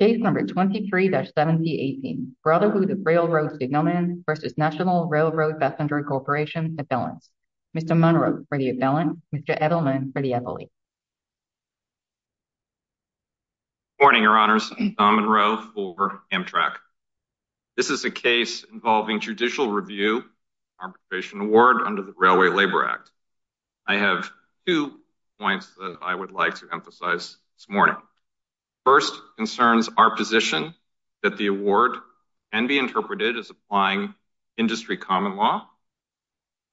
Case number 23-7018, Brotherhood of Railroad Signalmen versus National Railroad Passenger Corporation Abelance. Mr. Munro for the abelance, Mr. Edelman for the ability. Good morning, your honors. I'm Don Munro for Amtrak. This is a case involving judicial review arbitration award under the Railway Labor Act. I have two points that I would like to emphasize this morning. First concerns our position that the award can be interpreted as applying industry common law.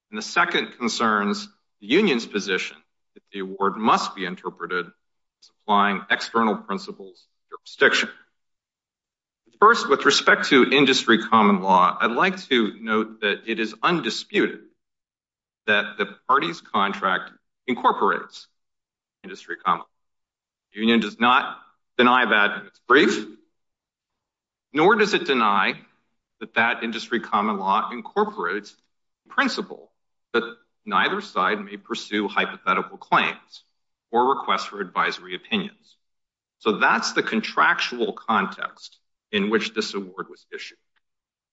And the second concerns the union's position that the award must be interpreted as applying external principles jurisdiction. First, with respect to industry common law, I'd like to note that it is undisputed that the party's contract incorporates industry common law. Union does not deny that it's brief, nor does it deny that that industry common law incorporates principle that neither side may pursue hypothetical claims or requests for advisory opinions. So that's the contractual context in which this award was issued.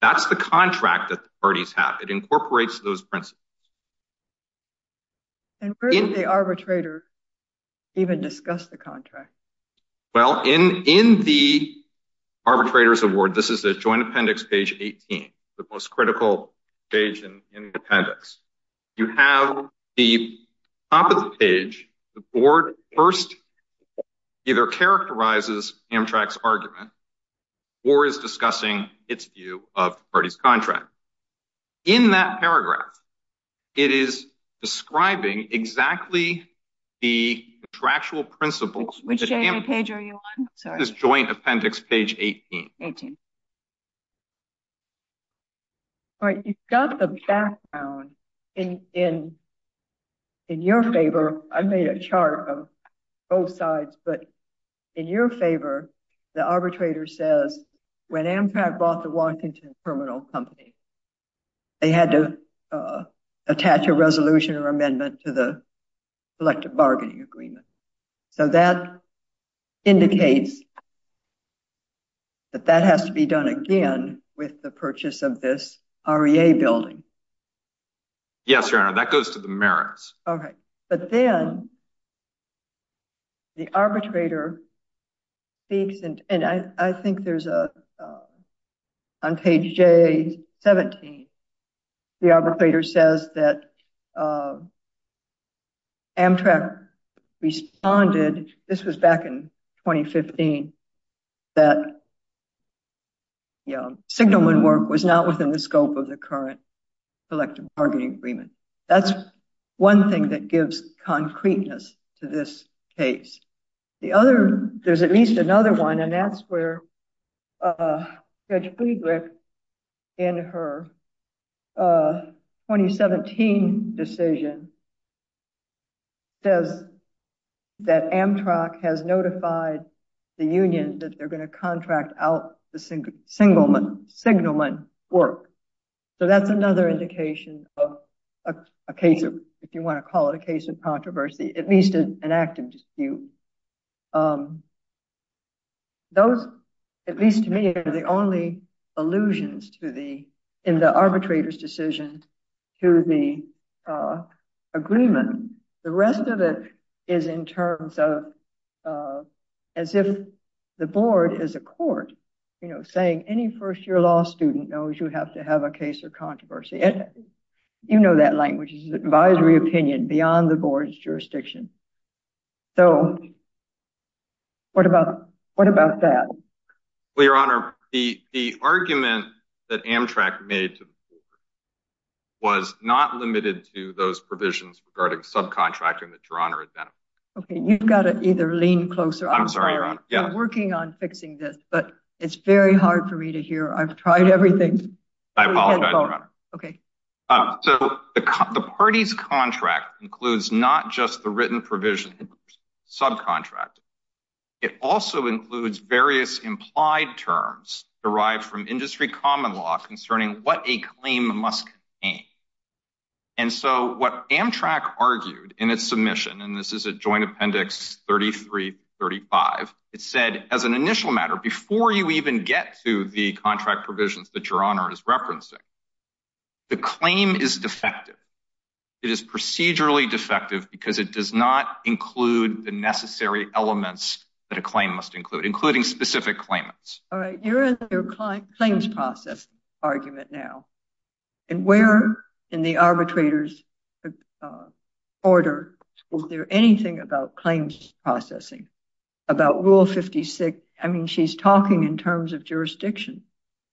That's the contract that the parties have. It incorporates those principles. And where did the arbitrator even discuss the contract? Well, in the arbitrator's award, this is a joint appendix, page 18, the most critical page in the appendix. You have the top of the page. The board first either characterizes Amtrak's argument or is discussing its view of the party's contract. In that paragraph, it is describing exactly the contractual principles. Which page are you on? This joint appendix, page 18. All right. You've got the background in your favor. I made a chart of both sides. But in your favor, the arbitrator says when Amtrak bought the Washington Terminal Company, they had to attach a resolution or amendment to the collective bargaining agreement. So that indicates that that has to be done again with the purchase of this REA building. Yes, your honor. That goes to the merits. All right. But then the arbitrator speaks, and I think there's a, on page 17, the arbitrator says that Amtrak responded, this was back in 2015, that signalman work was not within the scope of the this case. The other, there's at least another one, and that's where Judge Friedrich, in her 2017 decision, says that Amtrak has notified the union that they're going to contract out the signalman work. So that's another indication of a case of, if you want to call it a case of controversy, at least an active dispute. Those, at least to me, are the only allusions to the, in the arbitrator's decision to the agreement. The rest of it is in terms of, as if the board is a court, you know, saying any first-year law student knows you have to have a case of jurisdiction. So what about that? Well, your honor, the argument that Amtrak made was not limited to those provisions regarding subcontracting that your honor identified. Okay, you've got to either lean closer. I'm sorry, your honor. I'm working on fixing this, but it's very hard for me to hear. I've tried everything. I apologize, your honor. Okay. So the party's contract includes not just the written provision of subcontracting. It also includes various implied terms derived from industry common law concerning what a claim must contain. And so what Amtrak argued in its submission, and this is at joint appendix 33-35, it said as an initial matter, before you even get to the contract provisions that your honor is referencing, the claim is defective. It is procedurally defective because it does not include the necessary elements that a claim must include, including specific claimants. All right, you're in the claims process argument now. And where in the arbitrator's order was there anything about claims processing, about rule 56? I mean, he's talking in terms of jurisdiction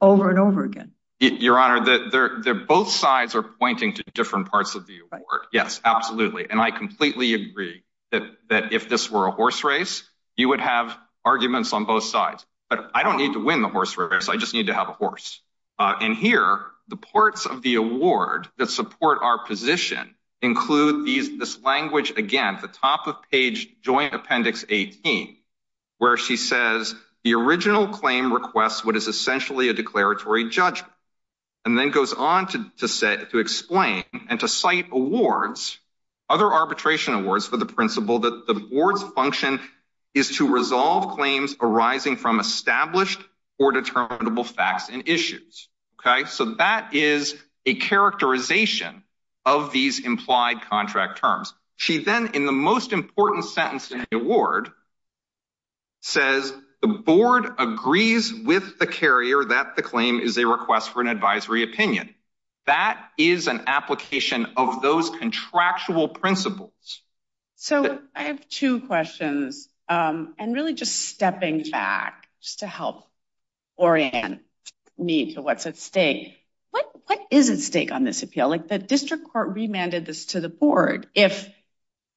over and over again. Your honor, both sides are pointing to different parts of the award. Yes, absolutely. And I completely agree that if this were a horse race, you would have arguments on both sides. But I don't need to win the horse race. I just need to have a horse. And here, the parts of the award that support our position include this language, again, the top of page joint appendix 18, where she says the original claim requests what is essentially a declaratory judgment, and then goes on to explain and to cite awards, other arbitration awards for the principle that the board's function is to resolve claims arising from established or determinable facts and issues. Okay, so that is a characterization of these implied contract terms. She then, in the most says the board agrees with the carrier that the claim is a request for an advisory opinion. That is an application of those contractual principles. So I have two questions. And really just stepping back just to help orient me to what's at stake. What is at stake on this appeal? Like the district court remanded this to the board? If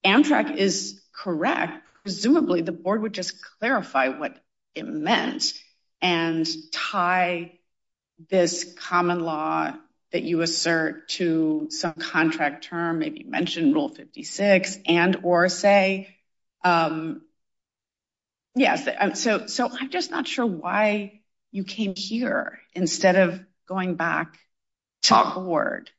Amtrak is correct, presumably, the board would just clarify what it meant, and tie this common law that you assert to some contract term, maybe mentioned Rule 56, and or say, yes, so so I'm just not sure why you came here instead of going back to the board.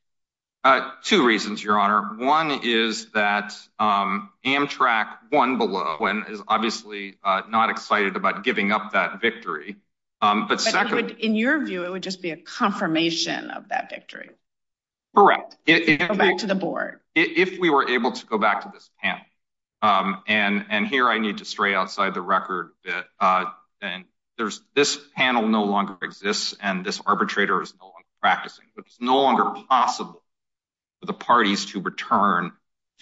Two reasons, Your Honor. One is that Amtrak won below and is obviously not excited about giving up that victory. But second, in your view, it would just be a confirmation of that victory. Correct. If you go back to the board, if we were able to go back to this panel, and and here I need to stray outside the record that there's this panel no longer exists. And this arbitrator is no longer practicing, but it's no longer possible for the parties to return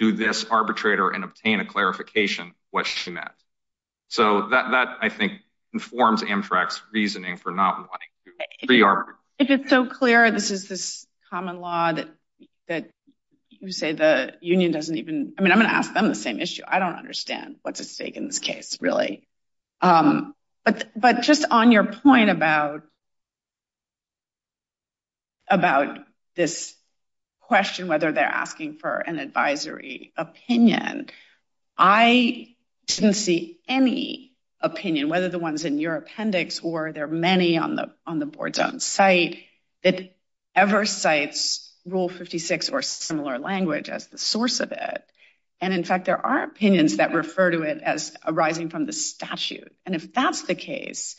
to this arbitrator and obtain a clarification of what she meant. So that I think informs Amtrak's reasoning for not wanting to re-arbitrate. If it's so clear, this is this common law that you say the union doesn't even, I mean, I'm going to ask them the same issue. I don't understand what's at stake in this case, really. But just on your point about about this question, whether they're asking for an advisory opinion, I didn't see any opinion, whether the ones in your appendix or there are many on the on the board's own site that ever cites Rule 56 or similar language as the source of it. And in fact, there are opinions that refer to it as arising from the statute. And if that's the case,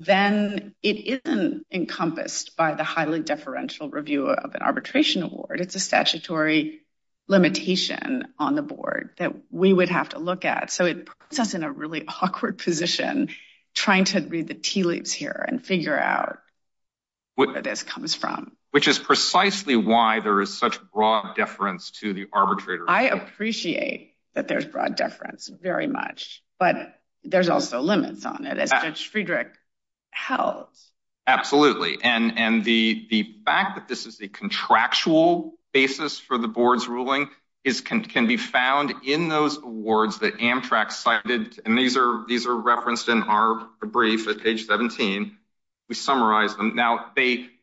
then it is the case. Encompassed by the highly deferential review of an arbitration award, it's a statutory limitation on the board that we would have to look at. So it puts us in a really awkward position trying to read the tea leaves here and figure out where this comes from. Which is precisely why there is such broad deference to the arbitrator. I appreciate that there's broad deference very much, but there's also limits on it, as Judge Friedrich held. Absolutely. And the fact that this is a contractual basis for the board's ruling can be found in those awards that Amtrak cited. And these are referenced in our brief at page 17. We summarize them. Now,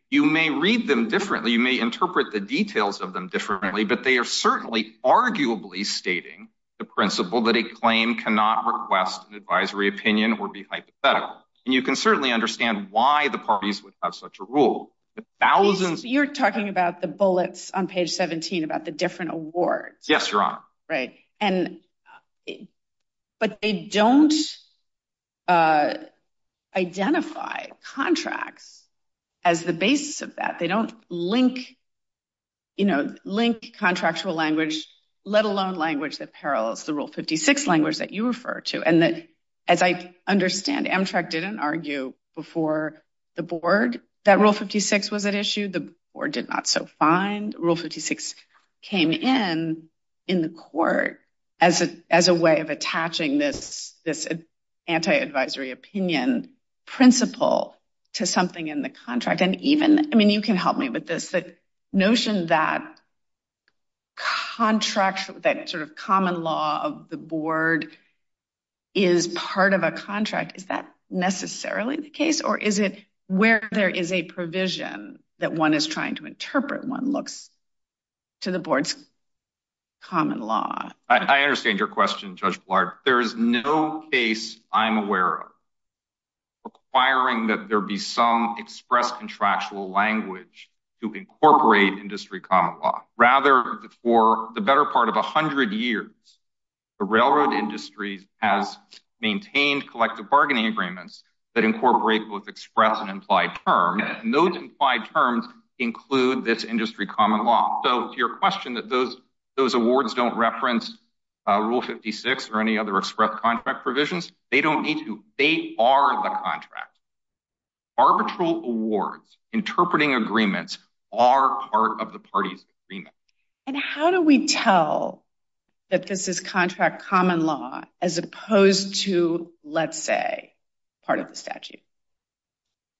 you may read them differently. You may interpret the details of them differently, but they are certainly arguably stating the principle that a claim cannot request an advisory opinion or be hypothetical. And you can certainly understand why the parties would have such a rule. You're talking about the bullets on page 17 about the different awards. Yes, Your Honor. Right. But they don't identify contracts as the basis of that. They don't link contractual language, let alone language that parallels the Rule 56 language that you refer to. And that, as I understand, Amtrak didn't argue before the board that Rule 56 was at issue. The board did not. Rule 56 came in in the court as a way of attaching this anti-advisory opinion principle to something in the contract. And even, I mean, you can help me with this, the notion that contractual, that sort of common law of the board is part of a contract. Is that what the board's common law looks like? I understand your question, Judge Blard. There is no case I'm aware of requiring that there be some express contractual language to incorporate industry common law. Rather, for the better part of 100 years, the railroad industry has maintained collective bargaining agreements that incorporate both express and implied terms. And those implied terms include this industry common law. So, to your question that those awards don't reference Rule 56 or any other express contract provisions, they don't need to. They are the contract. Arbitral awards, interpreting agreements, are part of the party's agreement. And how do we tell that this is contract common law as opposed to, let's say, part of the statute?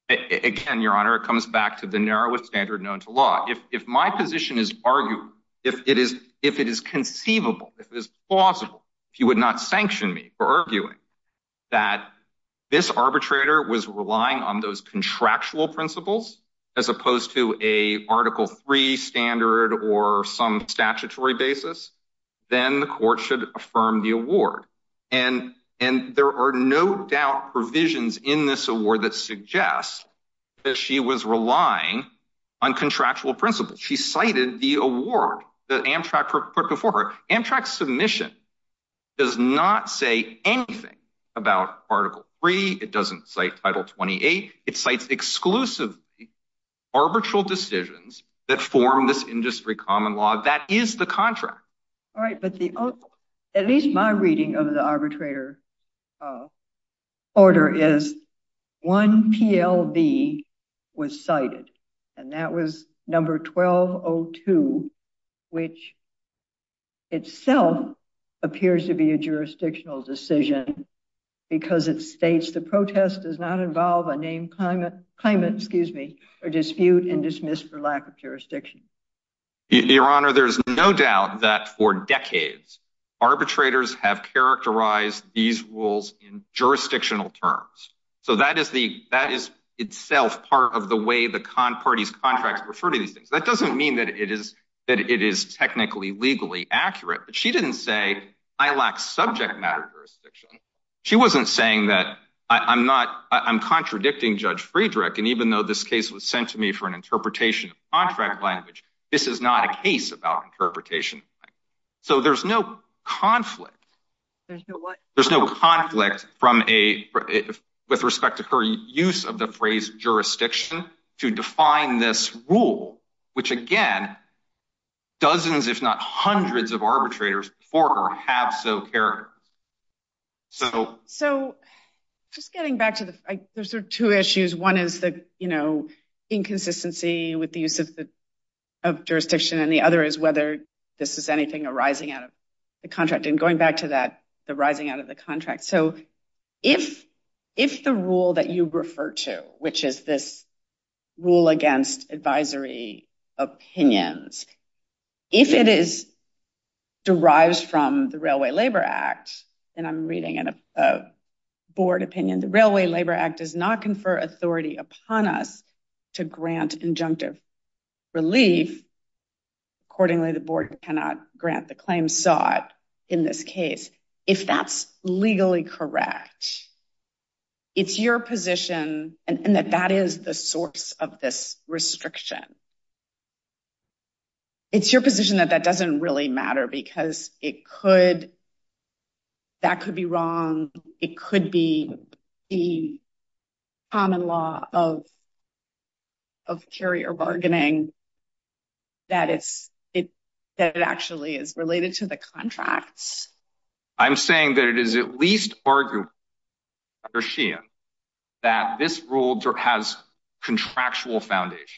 Again, Your Honor, it comes back to the narrowest standard known to law. If my position is arguable, if it is conceivable, if it is plausible, if you would not sanction me for arguing that this arbitrator was relying on those contractual principles as opposed to a Article III standard or some statutory basis, then the court should affirm the award. And there are no doubt provisions in this award that suggest that she was relying on contractual principles. She cited the award that Amtrak put before her. Amtrak's submission does not say anything about Article III. It doesn't cite Title 28. It cites exclusively arbitral decisions that form this industry common law. That is the contract. All right. But at least my reading of the arbitrator order is one PLB was cited, and that was number 1202, which itself appears to be a jurisdictional decision because it states the protest does not involve a named claimant or dispute and dismiss for lack of jurisdiction. Your Honor, there's no doubt that for decades arbitrators have characterized these rules in jurisdictional terms. So that is the that is itself part of the way the parties contracts refer to these things. That doesn't mean that it is that it is technically legally accurate. But she didn't say I lack subject matter jurisdiction. She wasn't saying that I'm not I'm contradicting Judge Friedrich. And even though this case was sent to me for interpretation of contract language, this is not a case about interpretation. So there's no conflict. There's no conflict from a with respect to her use of the phrase jurisdiction to define this rule, which again, dozens, if not hundreds of arbitrators before her have so So just getting back to the there's two issues. One is the, you know, inconsistency with the use of the of jurisdiction. And the other is whether this is anything arising out of the contract. And going back to that, the rising out of the contract. So if if the rule that you refer to, which is this rule against advisory opinions, if it is derived from the Railway Labor Act, and I'm reading in a board opinion, the Railway Labor Act does not confer authority upon us to grant injunctive relief. Accordingly, the board cannot grant the claim sought in this case, if that's legally correct. It's your position, and that that is the source of this restriction. It's your position that that doesn't really matter, because it could, that could be wrong, it could be the common law of, of carrier bargaining, that it's it, that it actually is related to the contracts. I'm saying that it is at least arguable that this rule has contractual foundations,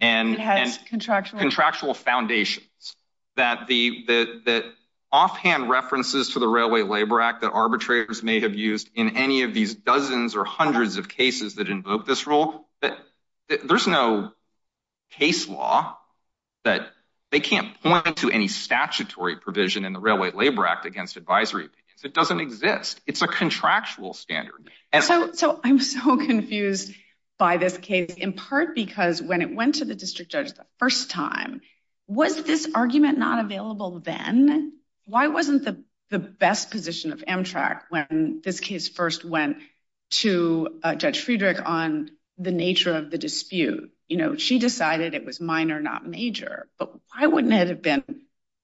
and has contractual contractual foundations, that the that offhand references to the Railway Labor Act that arbitrators may have used in any of these dozens or hundreds of cases that invoke this rule that there's no case law that they can't point to any statutory provision in the Railway Labor Act against advisory opinions. It doesn't exist. It's a contractual standard. So, so I'm so confused by this case, in part because when it went to the district judge the first time, was this argument not available then? Why wasn't the, the best position of Amtrak when this case first went to Judge Friedrich on the nature of the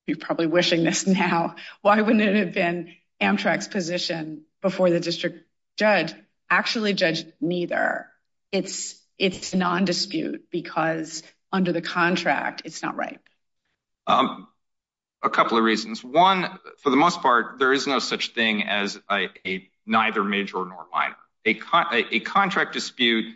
you're probably wishing this now, why wouldn't it have been Amtrak's position before the district judge actually judged neither? It's, it's non-dispute because under the contract it's not right. A couple of reasons. One, for the most part, there is no such thing as a neither major nor minor. A contract dispute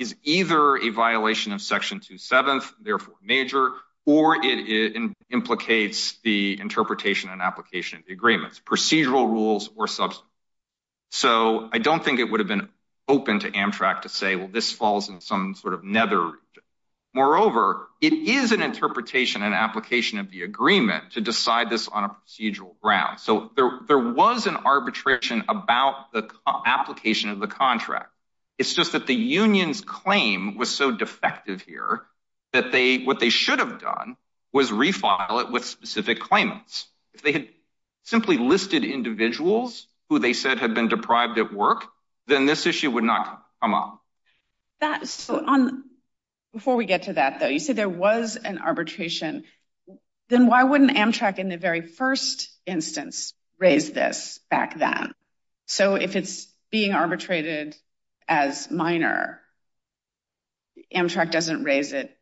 is either a violation of section 27th, therefore major, or it implicates the interpretation and application of the agreements, procedural rules or substance. So I don't think it would have been open to Amtrak to say well this falls in some sort of nether region. Moreover, it is an interpretation and application of the agreement to decide this on a procedural ground. So there, there was an arbitration about the application of the contract. It's just that the union's claim was so defective here that they, what they should have done was refile it with specific claimants. If they had simply listed individuals who they said had been deprived at work, then this issue would not come up. That, so on, before we get to that though, you said there was an arbitration. Then why wouldn't Amtrak in the very first instance raise this back then? So if it's being arbitrated as minor, Amtrak doesn't raise it.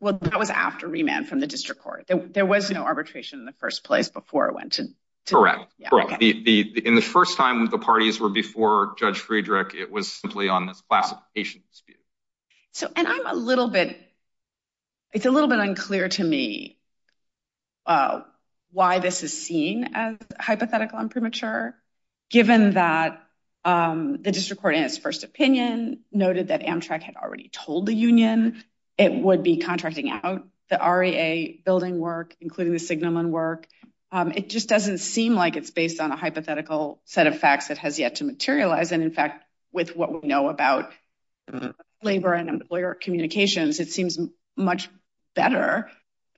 Well, that was after remand from the district court. There was no arbitration in the first place before it went to. Correct. In the first time the parties were before Judge Friedrich, it was simply on this classification dispute. So, and I'm a little bit, it's a little bit unclear to me why this is seen as hypothetical and premature, given that the district court in its first opinion noted that Amtrak had already told the union it would be contracting out the REA building work, including the Signumon work. It just doesn't seem like it's based on a hypothetical set of facts that has yet to materialize. And in fact, with what we know about labor and employer communications, it seems much better. I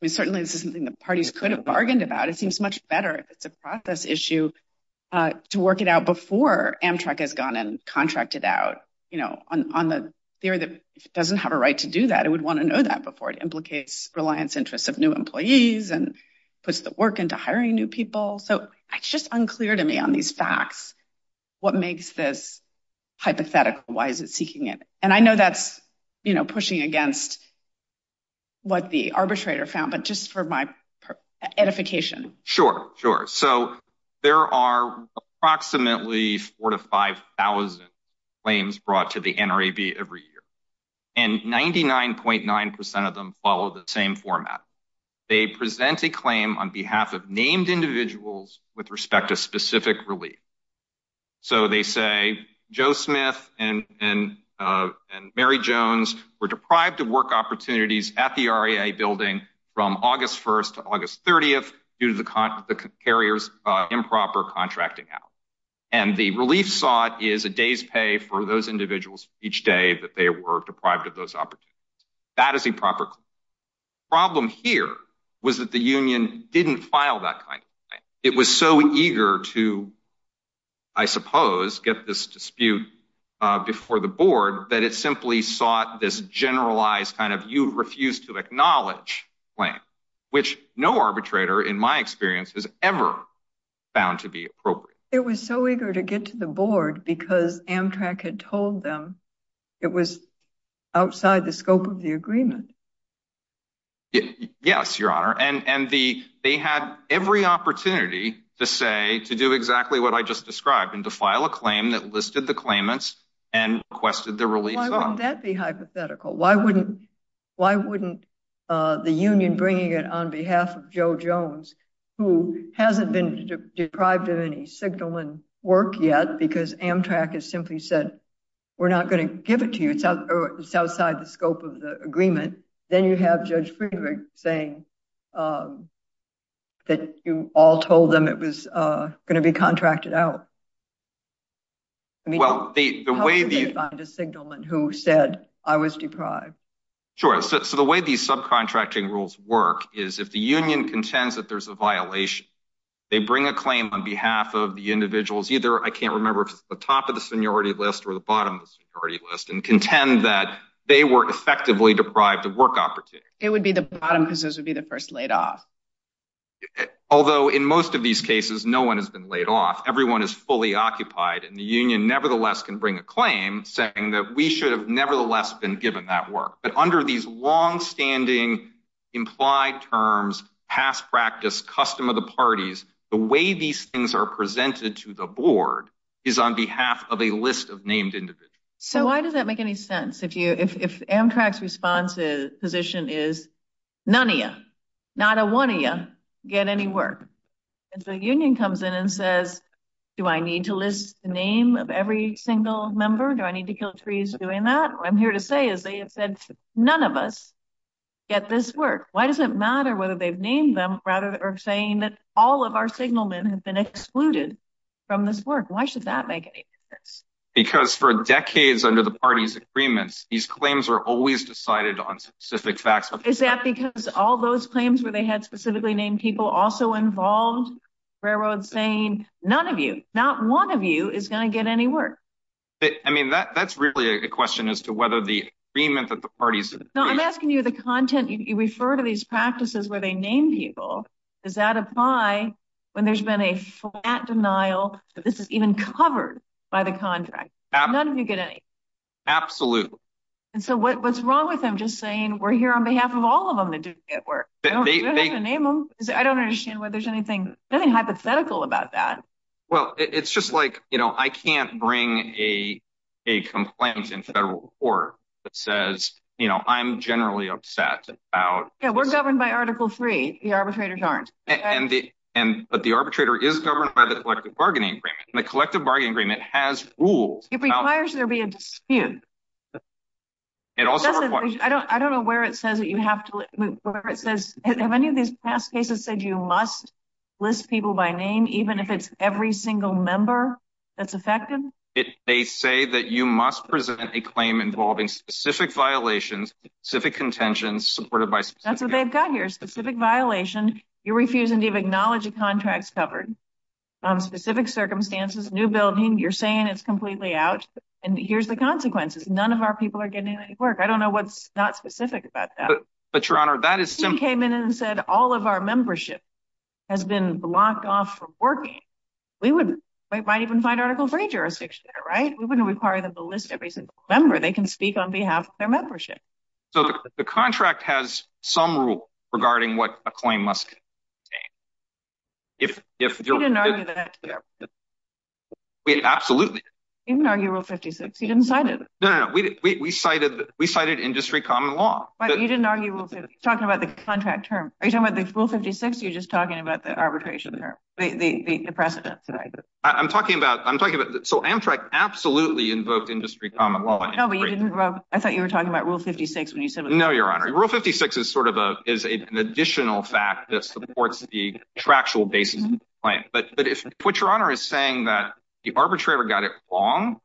mean, certainly this is something the parties could have bargained about. It seems much better if it's a process issue to work it out before Amtrak has gone and contracted out, you know, on the theory that if it doesn't have a right to do that, it would want to know that before it implicates reliance interests of new employees and puts work into hiring new people. So it's just unclear to me on these facts, what makes this hypothetical? Why is it seeking it? And I know that's, you know, pushing against what the arbitrator found, but just for my edification. Sure. Sure. So there are approximately four to 5,000 claims brought to the NRAB every year, and 99.9% of them follow the same format. They present a claim on behalf of named individuals with respect to specific relief. So they say Joe Smith and Mary Jones were deprived of work opportunities at the REA building from August 1st to August 30th due to the carriers' improper contracting out. And the relief sought is a day's pay for those individuals each day that they were deprived of those opportunities. That is a proper claim. The problem here was that the union didn't file that kind of claim. It was so eager to, I suppose, get this dispute before the board that it simply sought this generalized kind of you refuse to acknowledge claim, which no arbitrator, in my experience, has ever found to be appropriate. It was so eager to get to the board because Amtrak had told them it was outside the scope of the agreement. Yes, Your Honor. And they had every opportunity to say, to do exactly what I just described, and to file a claim that listed the claimants and requested the relief fund. Why wouldn't that be hypothetical? Why wouldn't the union bringing it on behalf of Joe Jones, who hasn't been deprived of any signal and work yet because Amtrak has simply said, we're not going to give it to you. It's outside the scope of the agreement. Then you have Judge Friedrich saying that you all told them it was going to be contracted out. I mean, how could they find a signalman who said I was deprived? Sure. So the way these subcontracting rules work is if the union contends that there's a violation, they bring a claim on the top of the seniority list or the bottom of the seniority list and contend that they were effectively deprived of work opportunity. It would be the bottom because this would be the first laid off. Although in most of these cases, no one has been laid off. Everyone is fully occupied and the union nevertheless can bring a claim saying that we should have nevertheless been given that work. But under these longstanding implied terms, past practice, custom of the parties, the way these are presented to the board is on behalf of a list of named individuals. So why does that make any sense? If Amtrak's response position is none of you, not a one of you, get any work. And so the union comes in and says, do I need to list the name of every single member? Do I need to kill trees doing that? What I'm here to say is they have said none of us get this work. Why does it excluded from this work? Why should that make any sense? Because for decades under the party's agreements, these claims are always decided on specific facts. Is that because all those claims where they had specifically named people also involved railroad saying, none of you, not one of you is going to get any work. I mean, that's really a question as to whether the agreement that the parties. No, I'm asking you the content. You refer to these practices where they name people. Does that apply when there's been a flat denial that this is even covered by the contract? None of you get any. Absolutely. And so what's wrong with them just saying we're here on behalf of all of them that do get work? I don't understand why there's anything, nothing hypothetical about that. Well, it's just like, you know, I can't bring a complaint in federal court that says, you know, I'm generally upset. Yeah, we're governed by article three. The arbitrators aren't. And the arbitrator is governed by the collective bargaining agreement. The collective bargaining agreement has rules. It requires there be a dispute. It also, I don't know where it says that you have to, it says, have any of these past cases said you must list people by name, even if it's every single member that's affected. It may say that you must present a claim involving specific violations, specific contentions supported by specific. That's what they've got here. Specific violation. You're refusing to even acknowledge the contracts covered on specific circumstances, new building. You're saying it's completely out. And here's the consequences. None of our people are getting any work. I don't know what's not specific about that. But your honor, that is. He came in and said all of our membership has been blocked off from working. We would, we might even find article three jurisdiction, right? We wouldn't require them to list every single member. They can speak on behalf of their membership. So the contract has some rule regarding what a claim must. If, if you didn't argue that, we absolutely didn't argue rule 56. He didn't cite it. No, no, no. We, we, we cited, we cited industry common law. But you didn't argue talking about the contract term. Are you talking about the rule 56? You're talking about the arbitration term, the precedent. I'm talking about, I'm talking about, so Amtrak absolutely invoked industry common law. I thought you were talking about rule 56 when you said. No, your honor. Rule 56 is sort of a, is a, an additional fact that supports the tractual basis of the claim. But, but if what your honor is saying that the arbitrator got it wrong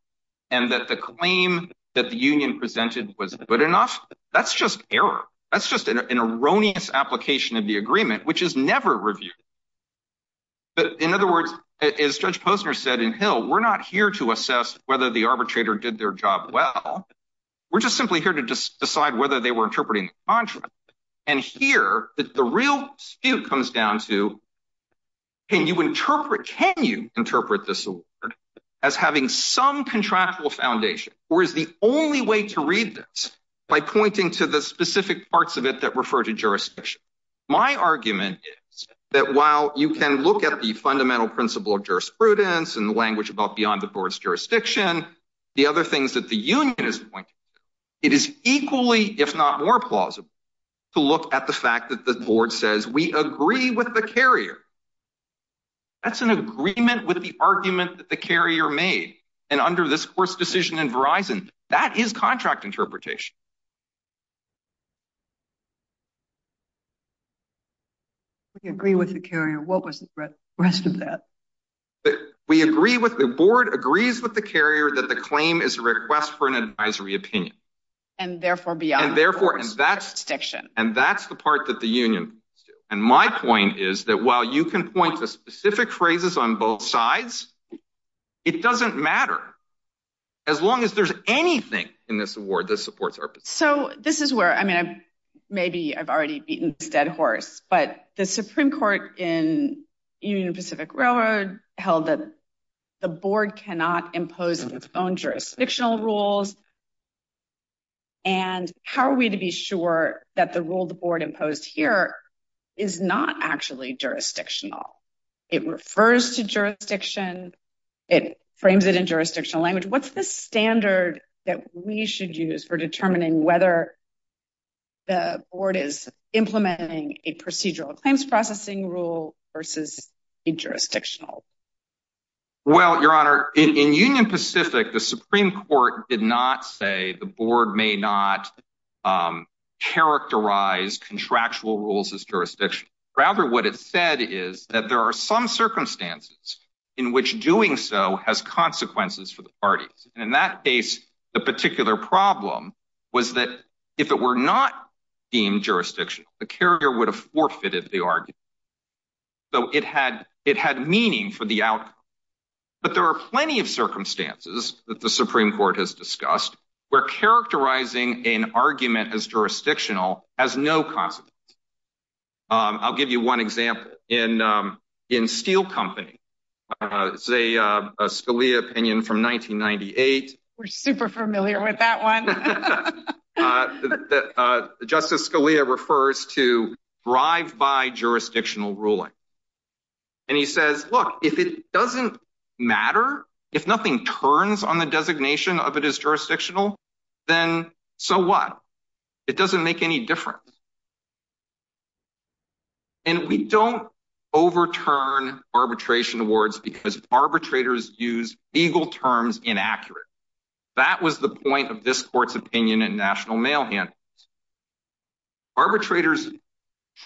and that the claim that the union presented was good enough, that's just error. That's just an application of the agreement, which is never reviewed. But in other words, as judge Posner said in Hill, we're not here to assess whether the arbitrator did their job. Well, we're just simply here to just decide whether they were interpreting the contract and here that the real dispute comes down to, can you interpret, can you interpret this as having some contractual foundation or is the only way to read this by pointing to the specific parts of it that refer to jurisdiction? My argument is that while you can look at the fundamental principle of jurisprudence and the language about beyond the board's jurisdiction, the other things that the union is pointing to, it is equally, if not more plausible to look at the fact that the board says we agree with the carrier. That's an agreement with the argument that the carrier made. And under this course decision in Verizon, that is contract interpretation. We agree with the carrier. What was the rest of that? We agree with the board, agrees with the carrier that the claim is a request for an advisory opinion. And therefore, beyond that, and that's the part that the union. And my point is that while you can point to specific phrases on both sides, it doesn't matter as long as there's anything in this award that supports our position. So this is where, I mean, maybe I've already beaten this dead horse, but the Supreme Court in Union Pacific Railroad held that the board cannot impose its own jurisdictional rules. And how are we to be sure that the rule the board imposed here is not actually jurisdictional? It refers to jurisdiction. It frames it in jurisdictional language. What's the standard that we should use for determining whether the board is implementing a procedural claims processing rule versus a jurisdictional? Well, Your Honor, in Union Pacific, the Supreme Court did not say the board may not characterize contractual rules as jurisdiction. Rather, what it said is that there are some circumstances in which doing so has consequences for the parties. And in that case, the particular problem was that if it were not deemed jurisdictional, the carrier would have forfeited the argument. So it had meaning for the outcome. But there are plenty of circumstances that the jurisdictional has no consequences. I'll give you one example. In Steel Company, it's a Scalia opinion from 1998. We're super familiar with that one. Justice Scalia refers to drive-by jurisdictional ruling. And he says, look, if it doesn't matter, if nothing turns on the designation of it as jurisdictional, then so what? It doesn't make any difference. And we don't overturn arbitration awards because arbitrators use legal terms inaccurately. That was the point of this court's opinion in national mail handouts. Arbitrators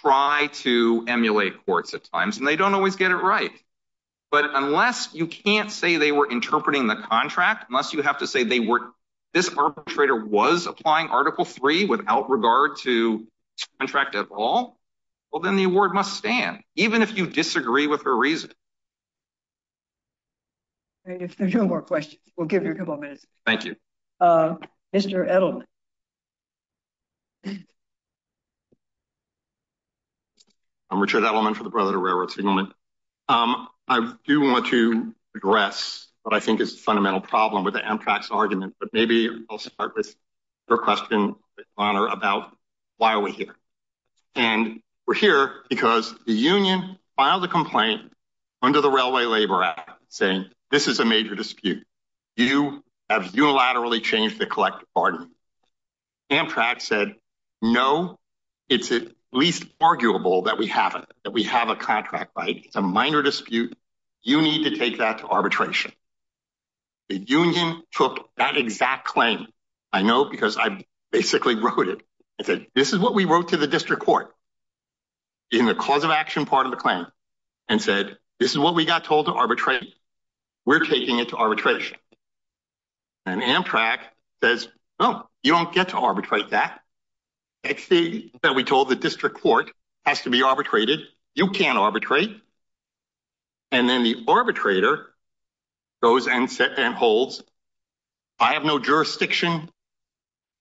try to emulate courts at times, and they don't always get it right. But unless you can't say they were interpreting the contract, unless you have to say they were, this arbitrator was applying Article III without regard to contract at all, well, then the award must stand, even if you disagree with her reason. If there's no more questions, we'll give you a couple of minutes. Thank you. Mr. Edelman. I'm Richard Edelman for the Brotherhood of Railroad Signalmen. I do want to address what I think is the fundamental problem with the Amtrak's argument, but maybe I'll start with her question about why are we here. And we're here because the union filed a complaint under the Railway Labor Act saying this is a major dispute. You have unilaterally changed the burden. Amtrak said, no, it's at least arguable that we have a contract. It's a minor dispute. You need to take that to arbitration. The union took that exact claim. I know because I basically wrote it. I said, this is what we wrote to the district court in the cause of action part of the claim and said, this is what we got told to arbitrate. We're taking it to arbitration. And Amtrak says, no, you don't get to arbitrate that. It's the thing that we told the district court has to be arbitrated. You can't arbitrate. And then the arbitrator goes and holds, I have no jurisdiction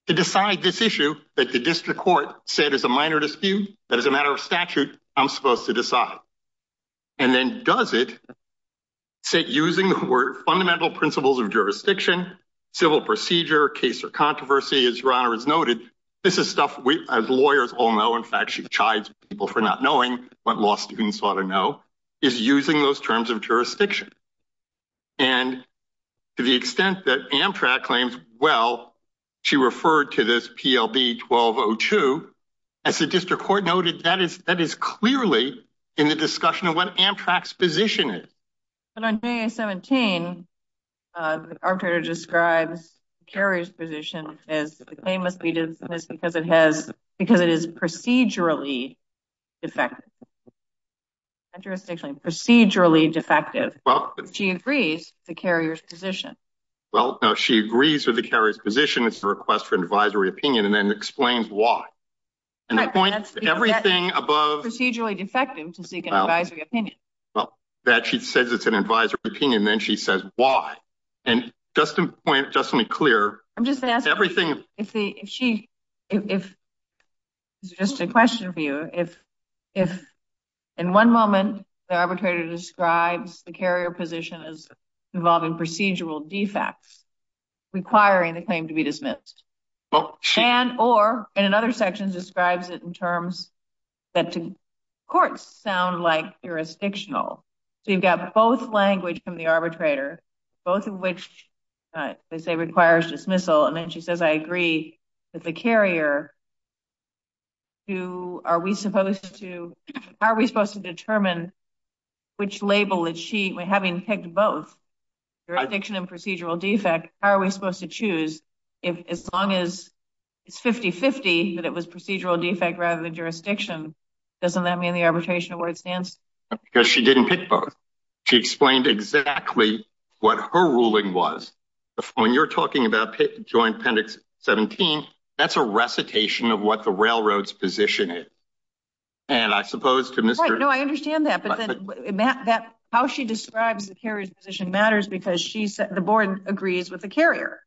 to decide this issue that the district court said is a minor dispute, that is a matter of statute, I'm supposed to decide. And then does it, say using the word fundamental principles of jurisdiction, civil procedure, case or controversy, as your honor has noted, this is stuff we as lawyers all know. In fact, she chides people for not knowing what law students ought to know is using those terms of jurisdiction. And to the extent that Amtrak claims, well, she referred to this PLB 1202, as the district court noted, that is clearly in the discussion of what Amtrak's position is. But on DA 17, the arbitrator describes the carrier's position as the claim must be dismissed because it is procedurally defective. She agrees with the carrier's position. Well, no, she agrees with the carrier's position, it's a request for advisory opinion, and then explains why. And the point, everything above... Procedurally defective to seek an advisory opinion. Well, that she says it's an advisory opinion, and then she says why. And just to point, just to be clear, everything... I'm just asking if the, if she, if it's just a question for you, if, if in one moment, the arbitrator describes the carrier position as involving procedural defects, requiring the claim to be dismissed. And, or, and in other sections describes it in terms that to courts sound like jurisdictional. So you've got both language from the arbitrator, both of which they say requires dismissal. And then she says, I agree with the carrier. Who are we supposed to, how are we supposed to determine which label that she, having picked both, jurisdiction and procedural defect, how are we supposed to choose if, as long as it's 50-50, that it was procedural defect rather than jurisdiction, doesn't that mean the arbitration award stands? Because she didn't pick both. She explained exactly what her ruling was. When you're talking about joint appendix 17, that's a recitation of what the railroad's position is. And I suppose to Mr. Right, no, I understand that. But then, how she describes the carrier's position matters because she said, the board agrees with the carrier.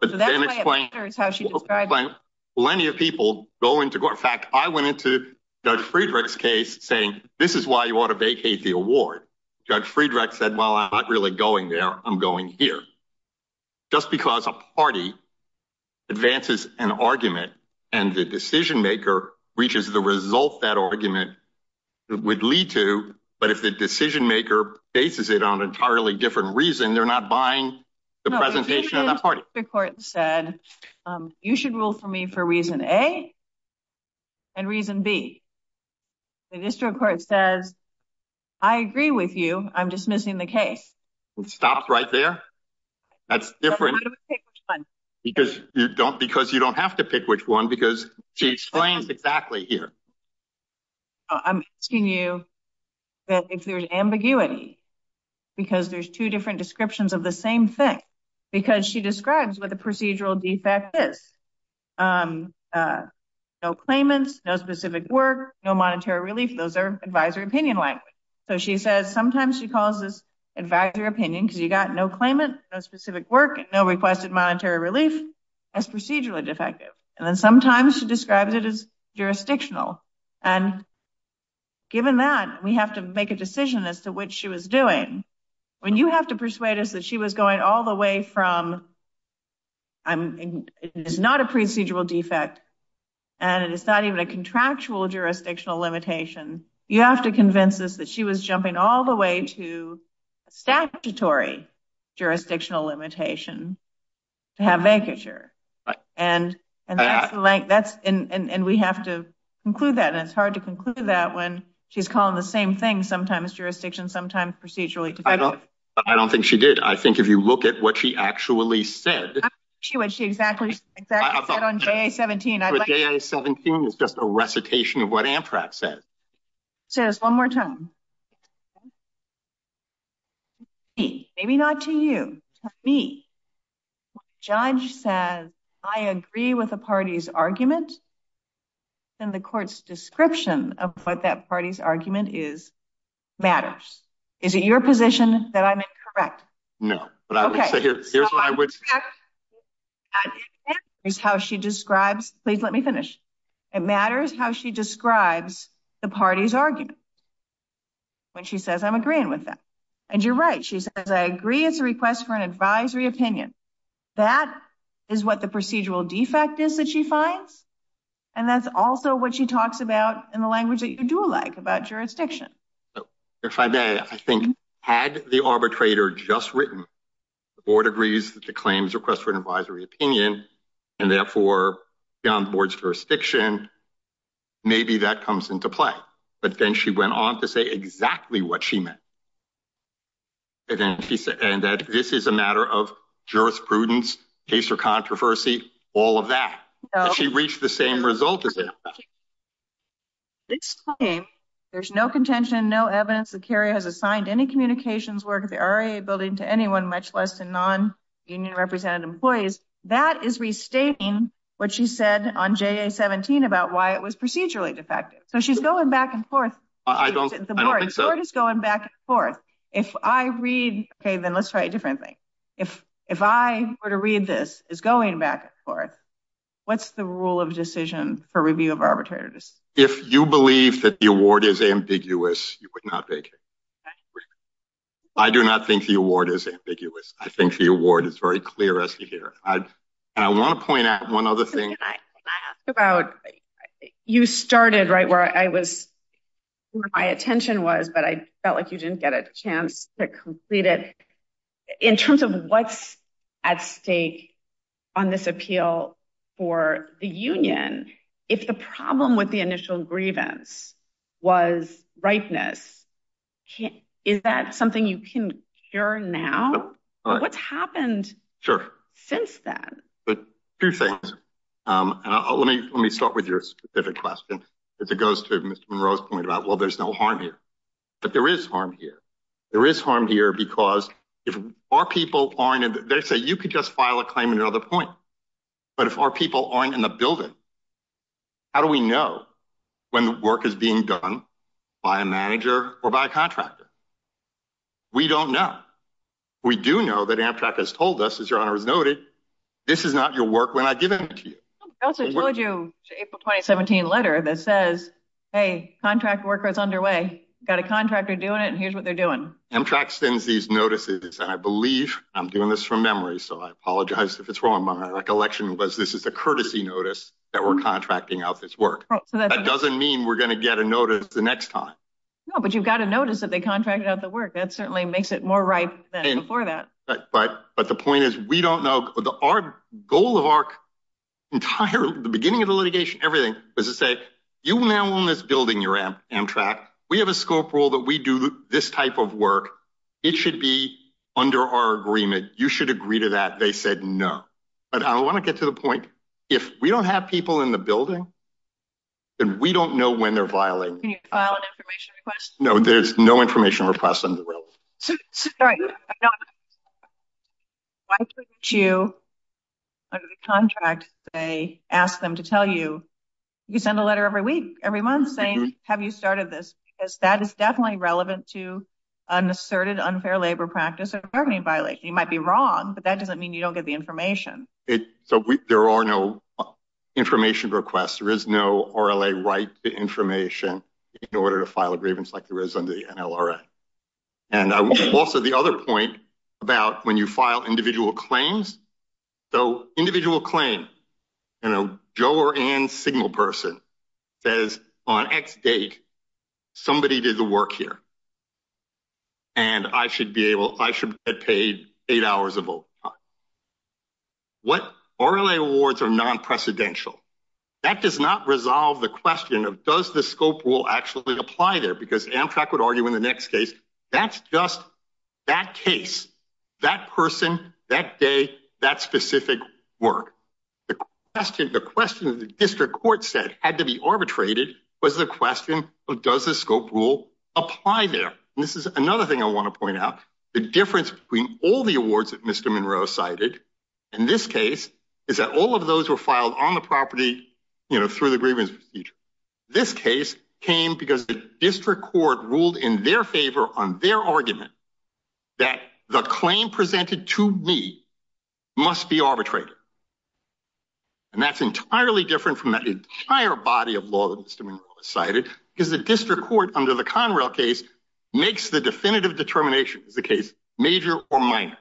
But then explain, plenty of people go into court. In fact, I went into Judge Friedreich's case saying, this is why you ought to vacate the award. Judge Friedreich said, well, I'm not really going there. I'm going here. Just because a party advances an argument and the decision maker reaches the result that argument would lead to, but if the decision maker bases it on an entirely different reason, they're not buying the presentation of the party. The district court said, you should rule for me for reason A and reason B. The district court says, I agree with you. I'm dismissing the case. Stopped right there. That's different. Because you don't, because you don't have to pick which one because she explains exactly here. I'm asking you that if there's ambiguity, because there's two different descriptions of the same thing, because she describes what the procedural defect is. No claimants, no specific work, no monetary relief. Those are advisory opinion language. So she says sometimes she calls this advisory opinion because you got no claimant, no specific work, no requested monetary relief as procedurally defective. And then sometimes she describes it as jurisdictional. And given that we have to make a decision as to what she was doing. When you have to persuade us that she was going all the way from, it is not a procedural defect and it is not even a contractual jurisdictional limitation. You have to convince us that she was jumping all the way to statutory jurisdictional limitation to have vacature. And we have to conclude that. And it's hard to conclude that when she's calling the same thing, sometimes jurisdiction, sometimes procedurally. I don't think she did. I think if you look at what she actually said. She would, she exactly said on GA17. GA17 is just a recitation of what said. Say this one more time. Maybe not to you, to me. Judge says, I agree with the party's argument and the court's description of what that party's argument is matters. Is it your position that I'm incorrect? No, but I would say here, here's what I would say is how she describes, please let me finish. It matters how she describes the party's argument. When she says, I'm agreeing with that. And you're right. She says, I agree. It's a request for an advisory opinion. That is what the procedural defect is that she finds. And that's also what she talks about in the language that you do like about jurisdiction. If I may, I think had the arbitrator just written, the board agrees that the claims request for an advisory opinion, and therefore beyond the board's jurisdiction, maybe that comes into play. But then she went on to say exactly what she meant. And then she said, and that this is a matter of jurisprudence, case or controversy, all of that. She reached the same result. There's no contention, no evidence that Kerry has assigned any communications work at the state. What she said on Jay 17 about why it was procedurally defective. So she's going back and forth. I don't think so. It's going back and forth. If I read, okay, then let's try a different thing. If, if I were to read this is going back and forth, what's the rule of decision for review of arbitrators? If you believe that the award is ambiguous, you would not make it. I do not think the award is ambiguous. I think the award is very clear as you hear. I want to point out one other thing about you started right where I was, where my attention was, but I felt like you didn't get a chance to complete it in terms of what's at stake on this appeal for the union. If the problem with the initial grievance was ripeness, is that something you can hear now? What's happened since then? Let me, let me start with your specific question. If it goes to Mr. Monroe's point about, well, there's no harm here, but there is harm here. There is harm here because if our people aren't, they say you could just file a claim in another point, but if our people aren't in the building, how do we know when the work is being done by a manager or by a contractor? We don't know. We do know that Amtrak has told us, as your honor has noted, this is not your work when I give it to you. I also told you the April 2017 letter that says, hey, contract worker is underway. Got a contractor doing it, and here's what they're doing. Amtrak sends these notices, and I believe I'm doing this from memory, so I apologize if it's wrong. My recollection was this is a courtesy notice that we're contracting out this work. That doesn't mean we're going to get a notice the next time. No, but you've got a notice that they contracted out the work. That certainly makes it more ripe than before that. But the point is, we don't know. Our goal of our entire, the beginning of the litigation, everything was to say, you now own this building, Amtrak. We have a scope rule that we do this type of work. It should be under our agreement. You should agree to that. They said no. But I want to get to the point, if we don't have people in the building, then we don't know when they're violating the contract. Can you file an information request? No, there's no information request. Why couldn't you, under the contract, say, ask them to tell you, you send a letter every week, every month, saying, have you started this? Because that is definitely relevant to an asserted unfair labor practice or bargaining violation. You might be wrong, but that doesn't mean you don't get the information. So there are no information requests. There is no RLA right to information in order to file a grievance like there is under the NLRA. And also, the other point about when you file individual claims, though individual claim, you know, Joe or Anne's signal person says, on X date, somebody did the work here. And I should be able, I should have paid eight hours of overtime. What RLA awards are non-precedential. That does not resolve the question of, does the scope rule actually apply there? Because Amtrak would argue in the next case, that's just that case, that person, that day, that specific work. The question the district court said had to be arbitrated was the question of, does the scope rule apply there? And this is another thing I want to point out. The difference between all the awards that Mr. Monroe cited in this case is that all of those were filed on the property, you know, through the grievance procedure. This case came because the district court ruled in their favor on their argument that the claim presented to me must be arbitrated. And that's entirely different from that entire body of law that Mr. Monroe cited, because the district court under the Conrail case makes the definitive determination, is the case major or minor.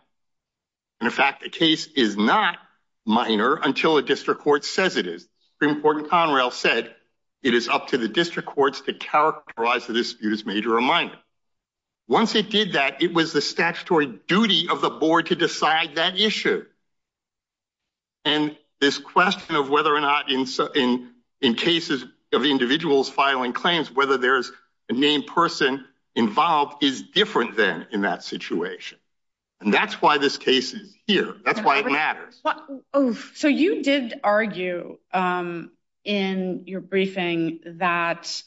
And in fact, the case is not minor until a district court says it is. Supreme Court in Conrail said it is up to the statutory duty of the board to decide that issue. And this question of whether or not in cases of individuals filing claims, whether there's a named person involved is different than in that situation. And that's why this case is here. That's why it matters. So you did argue in your briefing that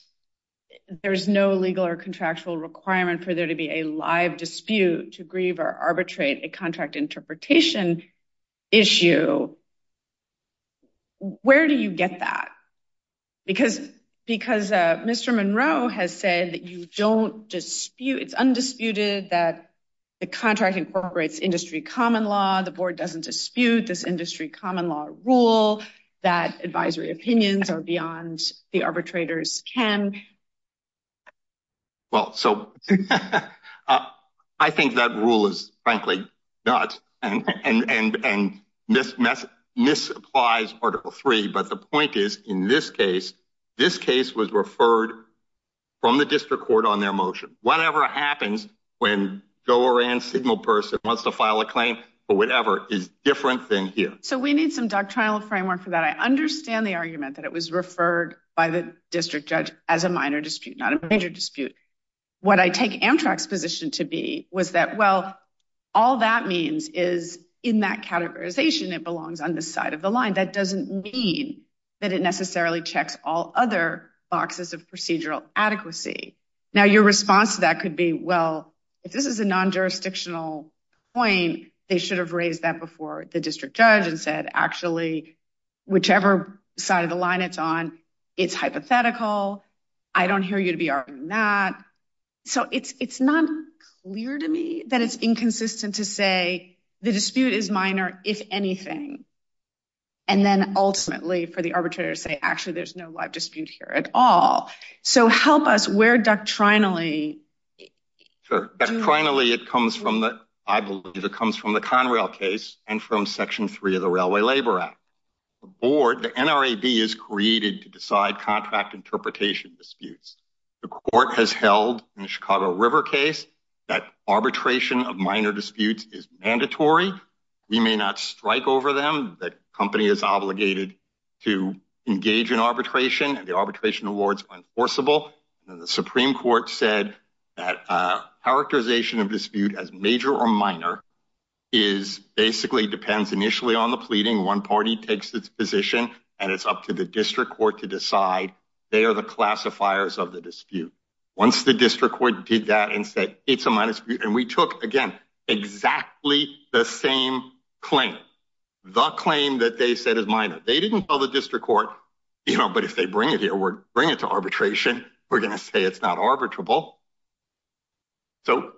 there's no legal or contractual requirement for there to be a live dispute to grieve or arbitrate a contract interpretation issue. Where do you get that? Because Mr. Monroe has said that you don't dispute, it's undisputed that the contract incorporates industry common law, the board doesn't dispute this industry common law rule, that advisory opinions are beyond the arbitrators can. Well, so I think that rule is frankly not. And this applies Article 3. But the point is, in this case, this case was referred from the district court on their motion, whatever happens when go around signal person wants to file a claim, or whatever is different than here. We need some doctrinal framework for that. I understand the argument that it was referred by the district judge as a minor dispute, not a major dispute. What I take Amtrak's position to be was that, well, all that means is in that categorization, it belongs on the side of the line. That doesn't mean that it necessarily checks all other boxes of procedural adequacy. Now, your response to that could be, well, if this is a non-jurisdictional point, they should have raised that before the district judge and said, actually, whichever side of the line it's on, it's hypothetical. I don't hear you to be arguing that. So it's not clear to me that it's inconsistent to say, the dispute is minor, if anything. And then ultimately, for the arbitrator to say, actually, there's no live dispute here at all. So help us where doctrinally. Sure. Doctrinally, it comes from the, I believe it comes from the Conrail case and from Section 3 of the Railway Labor Act. The board, the NRAB, is created to decide contract interpretation disputes. The court has held in the Chicago River case that arbitration of minor disputes is mandatory. We may not strike over them. The company is obligated to engage in arbitration, and the arbitration awards are enforceable. The Supreme Court said that characterization of dispute as major or minor basically depends initially on the pleading. One party takes its position, and it's up to the district court to decide. They are the classifiers of the dispute. Once the district court did that and said, it's a minor dispute, and we took, again, exactly the same claim, the claim that they said is minor. They didn't tell the district court, but if they bring it here, bring it to arbitration, we're going to say it's not arbitrable. So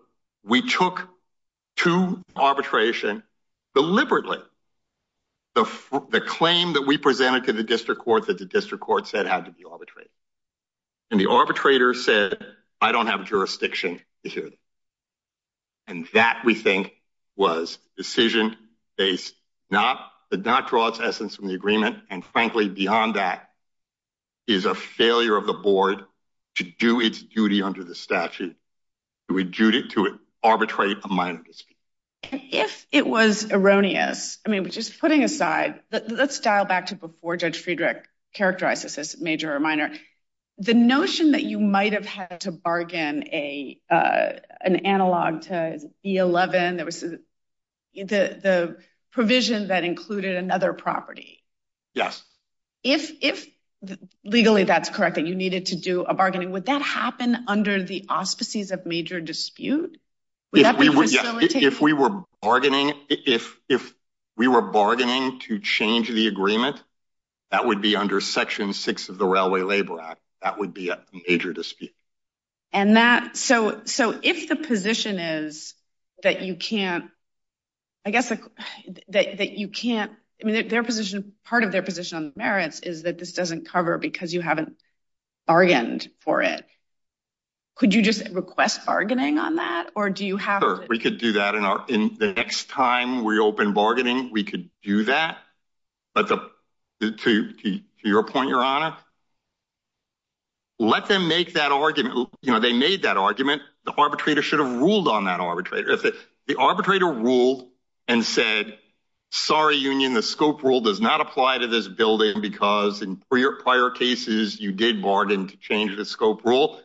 we took to arbitration deliberately the claim that we presented to the district court that the district court said had to be arbitrated. And the arbitrator said, I don't have jurisdiction. And that, we think, was decision-based, did not draw its essence from the agreement, and frankly, beyond that, is a failure of the board to do its duty under the statute, to adjudicate, to arbitrate a minor dispute. If it was erroneous, I mean, just putting aside, let's dial back to before Judge Friedrich characterized this as major or minor, the notion that you might have had to bargain an analog to E11, the provision that included another property. Yes. If, legally, that's correct, that you needed to do a bargaining, would that happen under the auspices of major dispute? If we were bargaining to change the agreement, that would be under Section 6 of the Railway Labor Act. That would be a major dispute. And that, so if the position is that you can't, I guess, that you can't, I mean, their position, part of their position on the merits is that this doesn't cover because you haven't bargained for it. Could you just request bargaining on that, or do you have to? We could do that, and the next time we open bargaining, we could do that, but to your point, Your Honor, let them make that argument. You know, they made that argument. The arbitrator should have ruled on that arbitrator. If the arbitrator ruled and said, sorry, union, the scope rule does not apply to this building because in prior cases, you did bargain to change the scope rule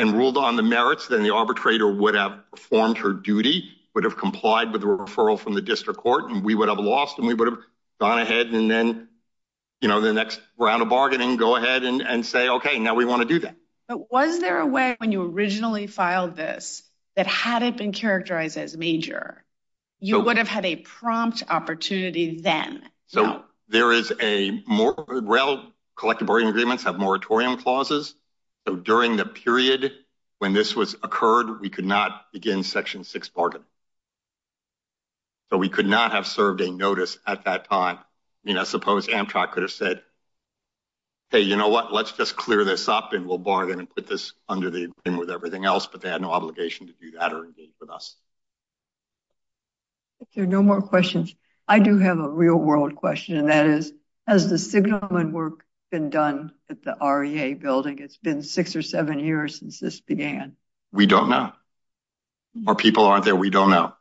and ruled on the merits, then the arbitrator would have performed her duty, would have complied with the referral from the district court, and we would have lost, we would have gone ahead and then, you know, the next round of bargaining, go ahead and say, okay, now we want to do that. But was there a way when you originally filed this that had it been characterized as major, you would have had a prompt opportunity then? So there is a more, well, collective bargaining agreements have moratorium clauses, so during the period when this was occurred, we could not begin Section 6 bargaining. So we could not have served a notice at that time. I mean, I suppose Amtrak could have said, hey, you know what, let's just clear this up and we'll bargain and put this under the agreement with everything else, but they had no obligation to do that or engage with us. If there are no more questions, I do have a real world question, and that is, has the signalman work been done at the REA building? It's been six or seven years since this began. We don't know. Our people aren't there. We don't know.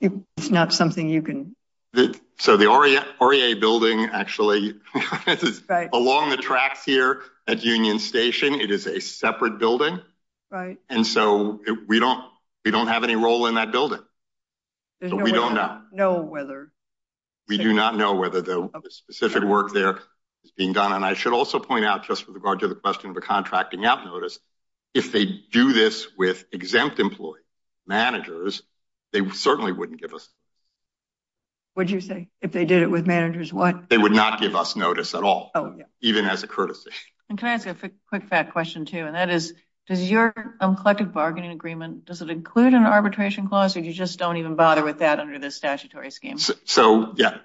It's not something you can. So the REA building, actually, along the tracks here at Union Station, it is a separate building, and so we don't have any role in that building. We don't know. We do not know whether the specific work there is being done, and I should also point out, just with regard to the question of a contracting out notice, if they do this with exempt employee managers, they certainly wouldn't give us notice. Would you say, if they did it with managers, what? They would not give us notice at all, even as a courtesy. And can I ask a quick fact question too, and that is, does your collective bargaining agreement, does it include an arbitration clause, or you just don't even bother with that under this statutory scheme? So, yeah,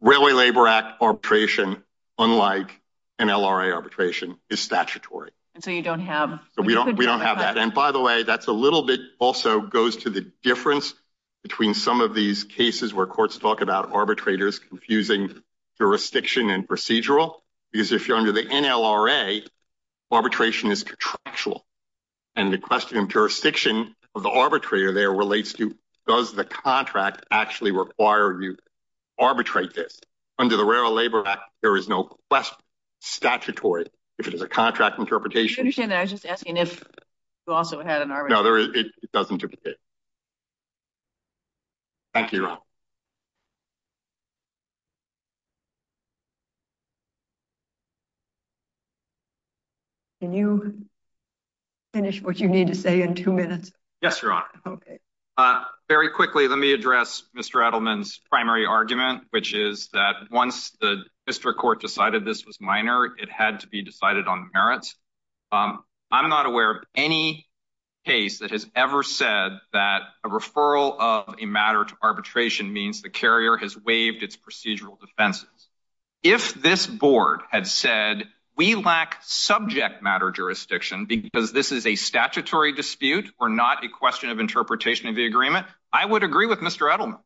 Railway Labor Act arbitration, unlike NLRA arbitration, is statutory. And so you don't have. We don't have that. And by the way, that's a little bit also goes to the difference between some of these cases where courts talk about arbitrators confusing jurisdiction and procedural, because if you're under the NLRA, arbitration is contractual. And the question of jurisdiction of the arbitrator there relates to, does the contract actually require you to arbitrate this? Under the Railway Labor Act, there is no statutory, if it is a contract interpretation. I understand that, I was just asking if you also had an arbitration. No, it doesn't. Thank you, Your Honor. Can you finish what you need to say in two minutes? Yes, Your Honor. Okay. Very quickly, let me address Mr. Edelman's primary argument, which is that once the district court decided this was minor, it had to be decided on merits. I'm not aware of any case that has ever said that a referral of a matter to arbitration means the carrier has waived its procedural defenses. If this board had said, we lack subject matter jurisdiction because this is a statutory dispute or not a question of interpretation of the agreement, I would agree with Mr. Edelman.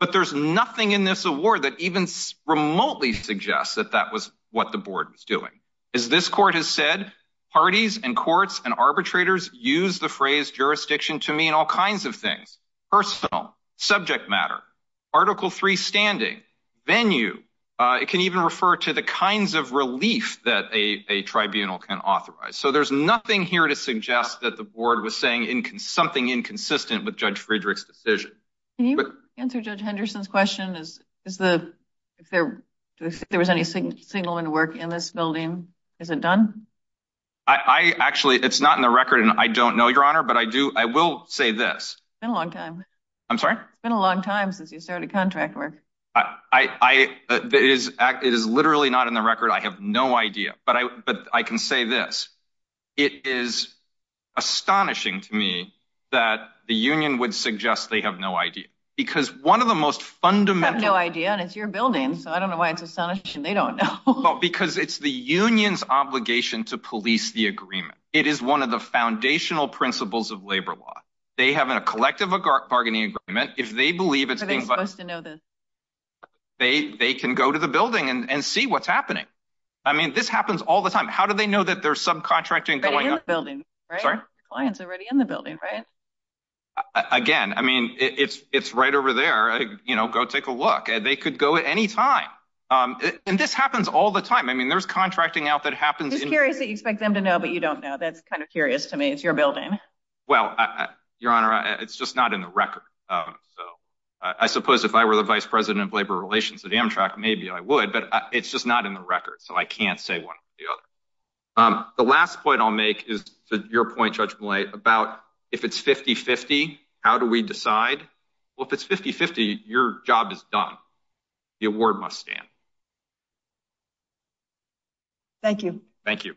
But there's nothing in this award that even remotely suggests that that was what the board was doing. As this court has said, parties and courts and arbitrators use the phrase jurisdiction to mean all kinds of things, personal, subject matter, Article III standing, venue. It can even refer to the kinds of relief that a tribunal can authorize. So there's nothing here to suggest that the board was saying something inconsistent with Judge Friedrich's decision. Can you answer Judge Henderson's question? If there was any signal in work in this building, is it done? Actually, it's not in the record and I don't know, Your Honor, but I will say this. It's been a long time. I'm sorry? It's been a long time since you started contract work. It is literally not in the record. I have no idea. But I can say this. It is astonishing to me that the union would suggest they have no idea. Because one of the most fundamental... They have no idea and it's your building, so I don't know why it's astonishing they don't know. Because it's the union's obligation to police the agreement. It is one of the foundational principles of labor law. They have a collective bargaining agreement. If they believe it's... Are they supposed to know this? They can go to the building and see what's happening. I mean, this happens all the time. How do they know that there's subcontracting going on? Already in the building, right? Sorry? The client's already in the building, right? Again, I mean, it's right over there. Go take a look. They could go at any time. And this happens all the time. I mean, there's contracting out that happens... Just curious that you expect them to know, but you don't know. That's kind of curious to me. It's your building. Well, your honor, it's just not in the record. So I suppose if I were the vice president of labor relations at Amtrak, maybe I would, but it's just not in the record. So I can't say one. The last point I'll make is to your point, Judge Millay, about if it's 50-50, how do we decide? Well, if it's 50-50, your job is done. The award must stand. Thank you. Thank you.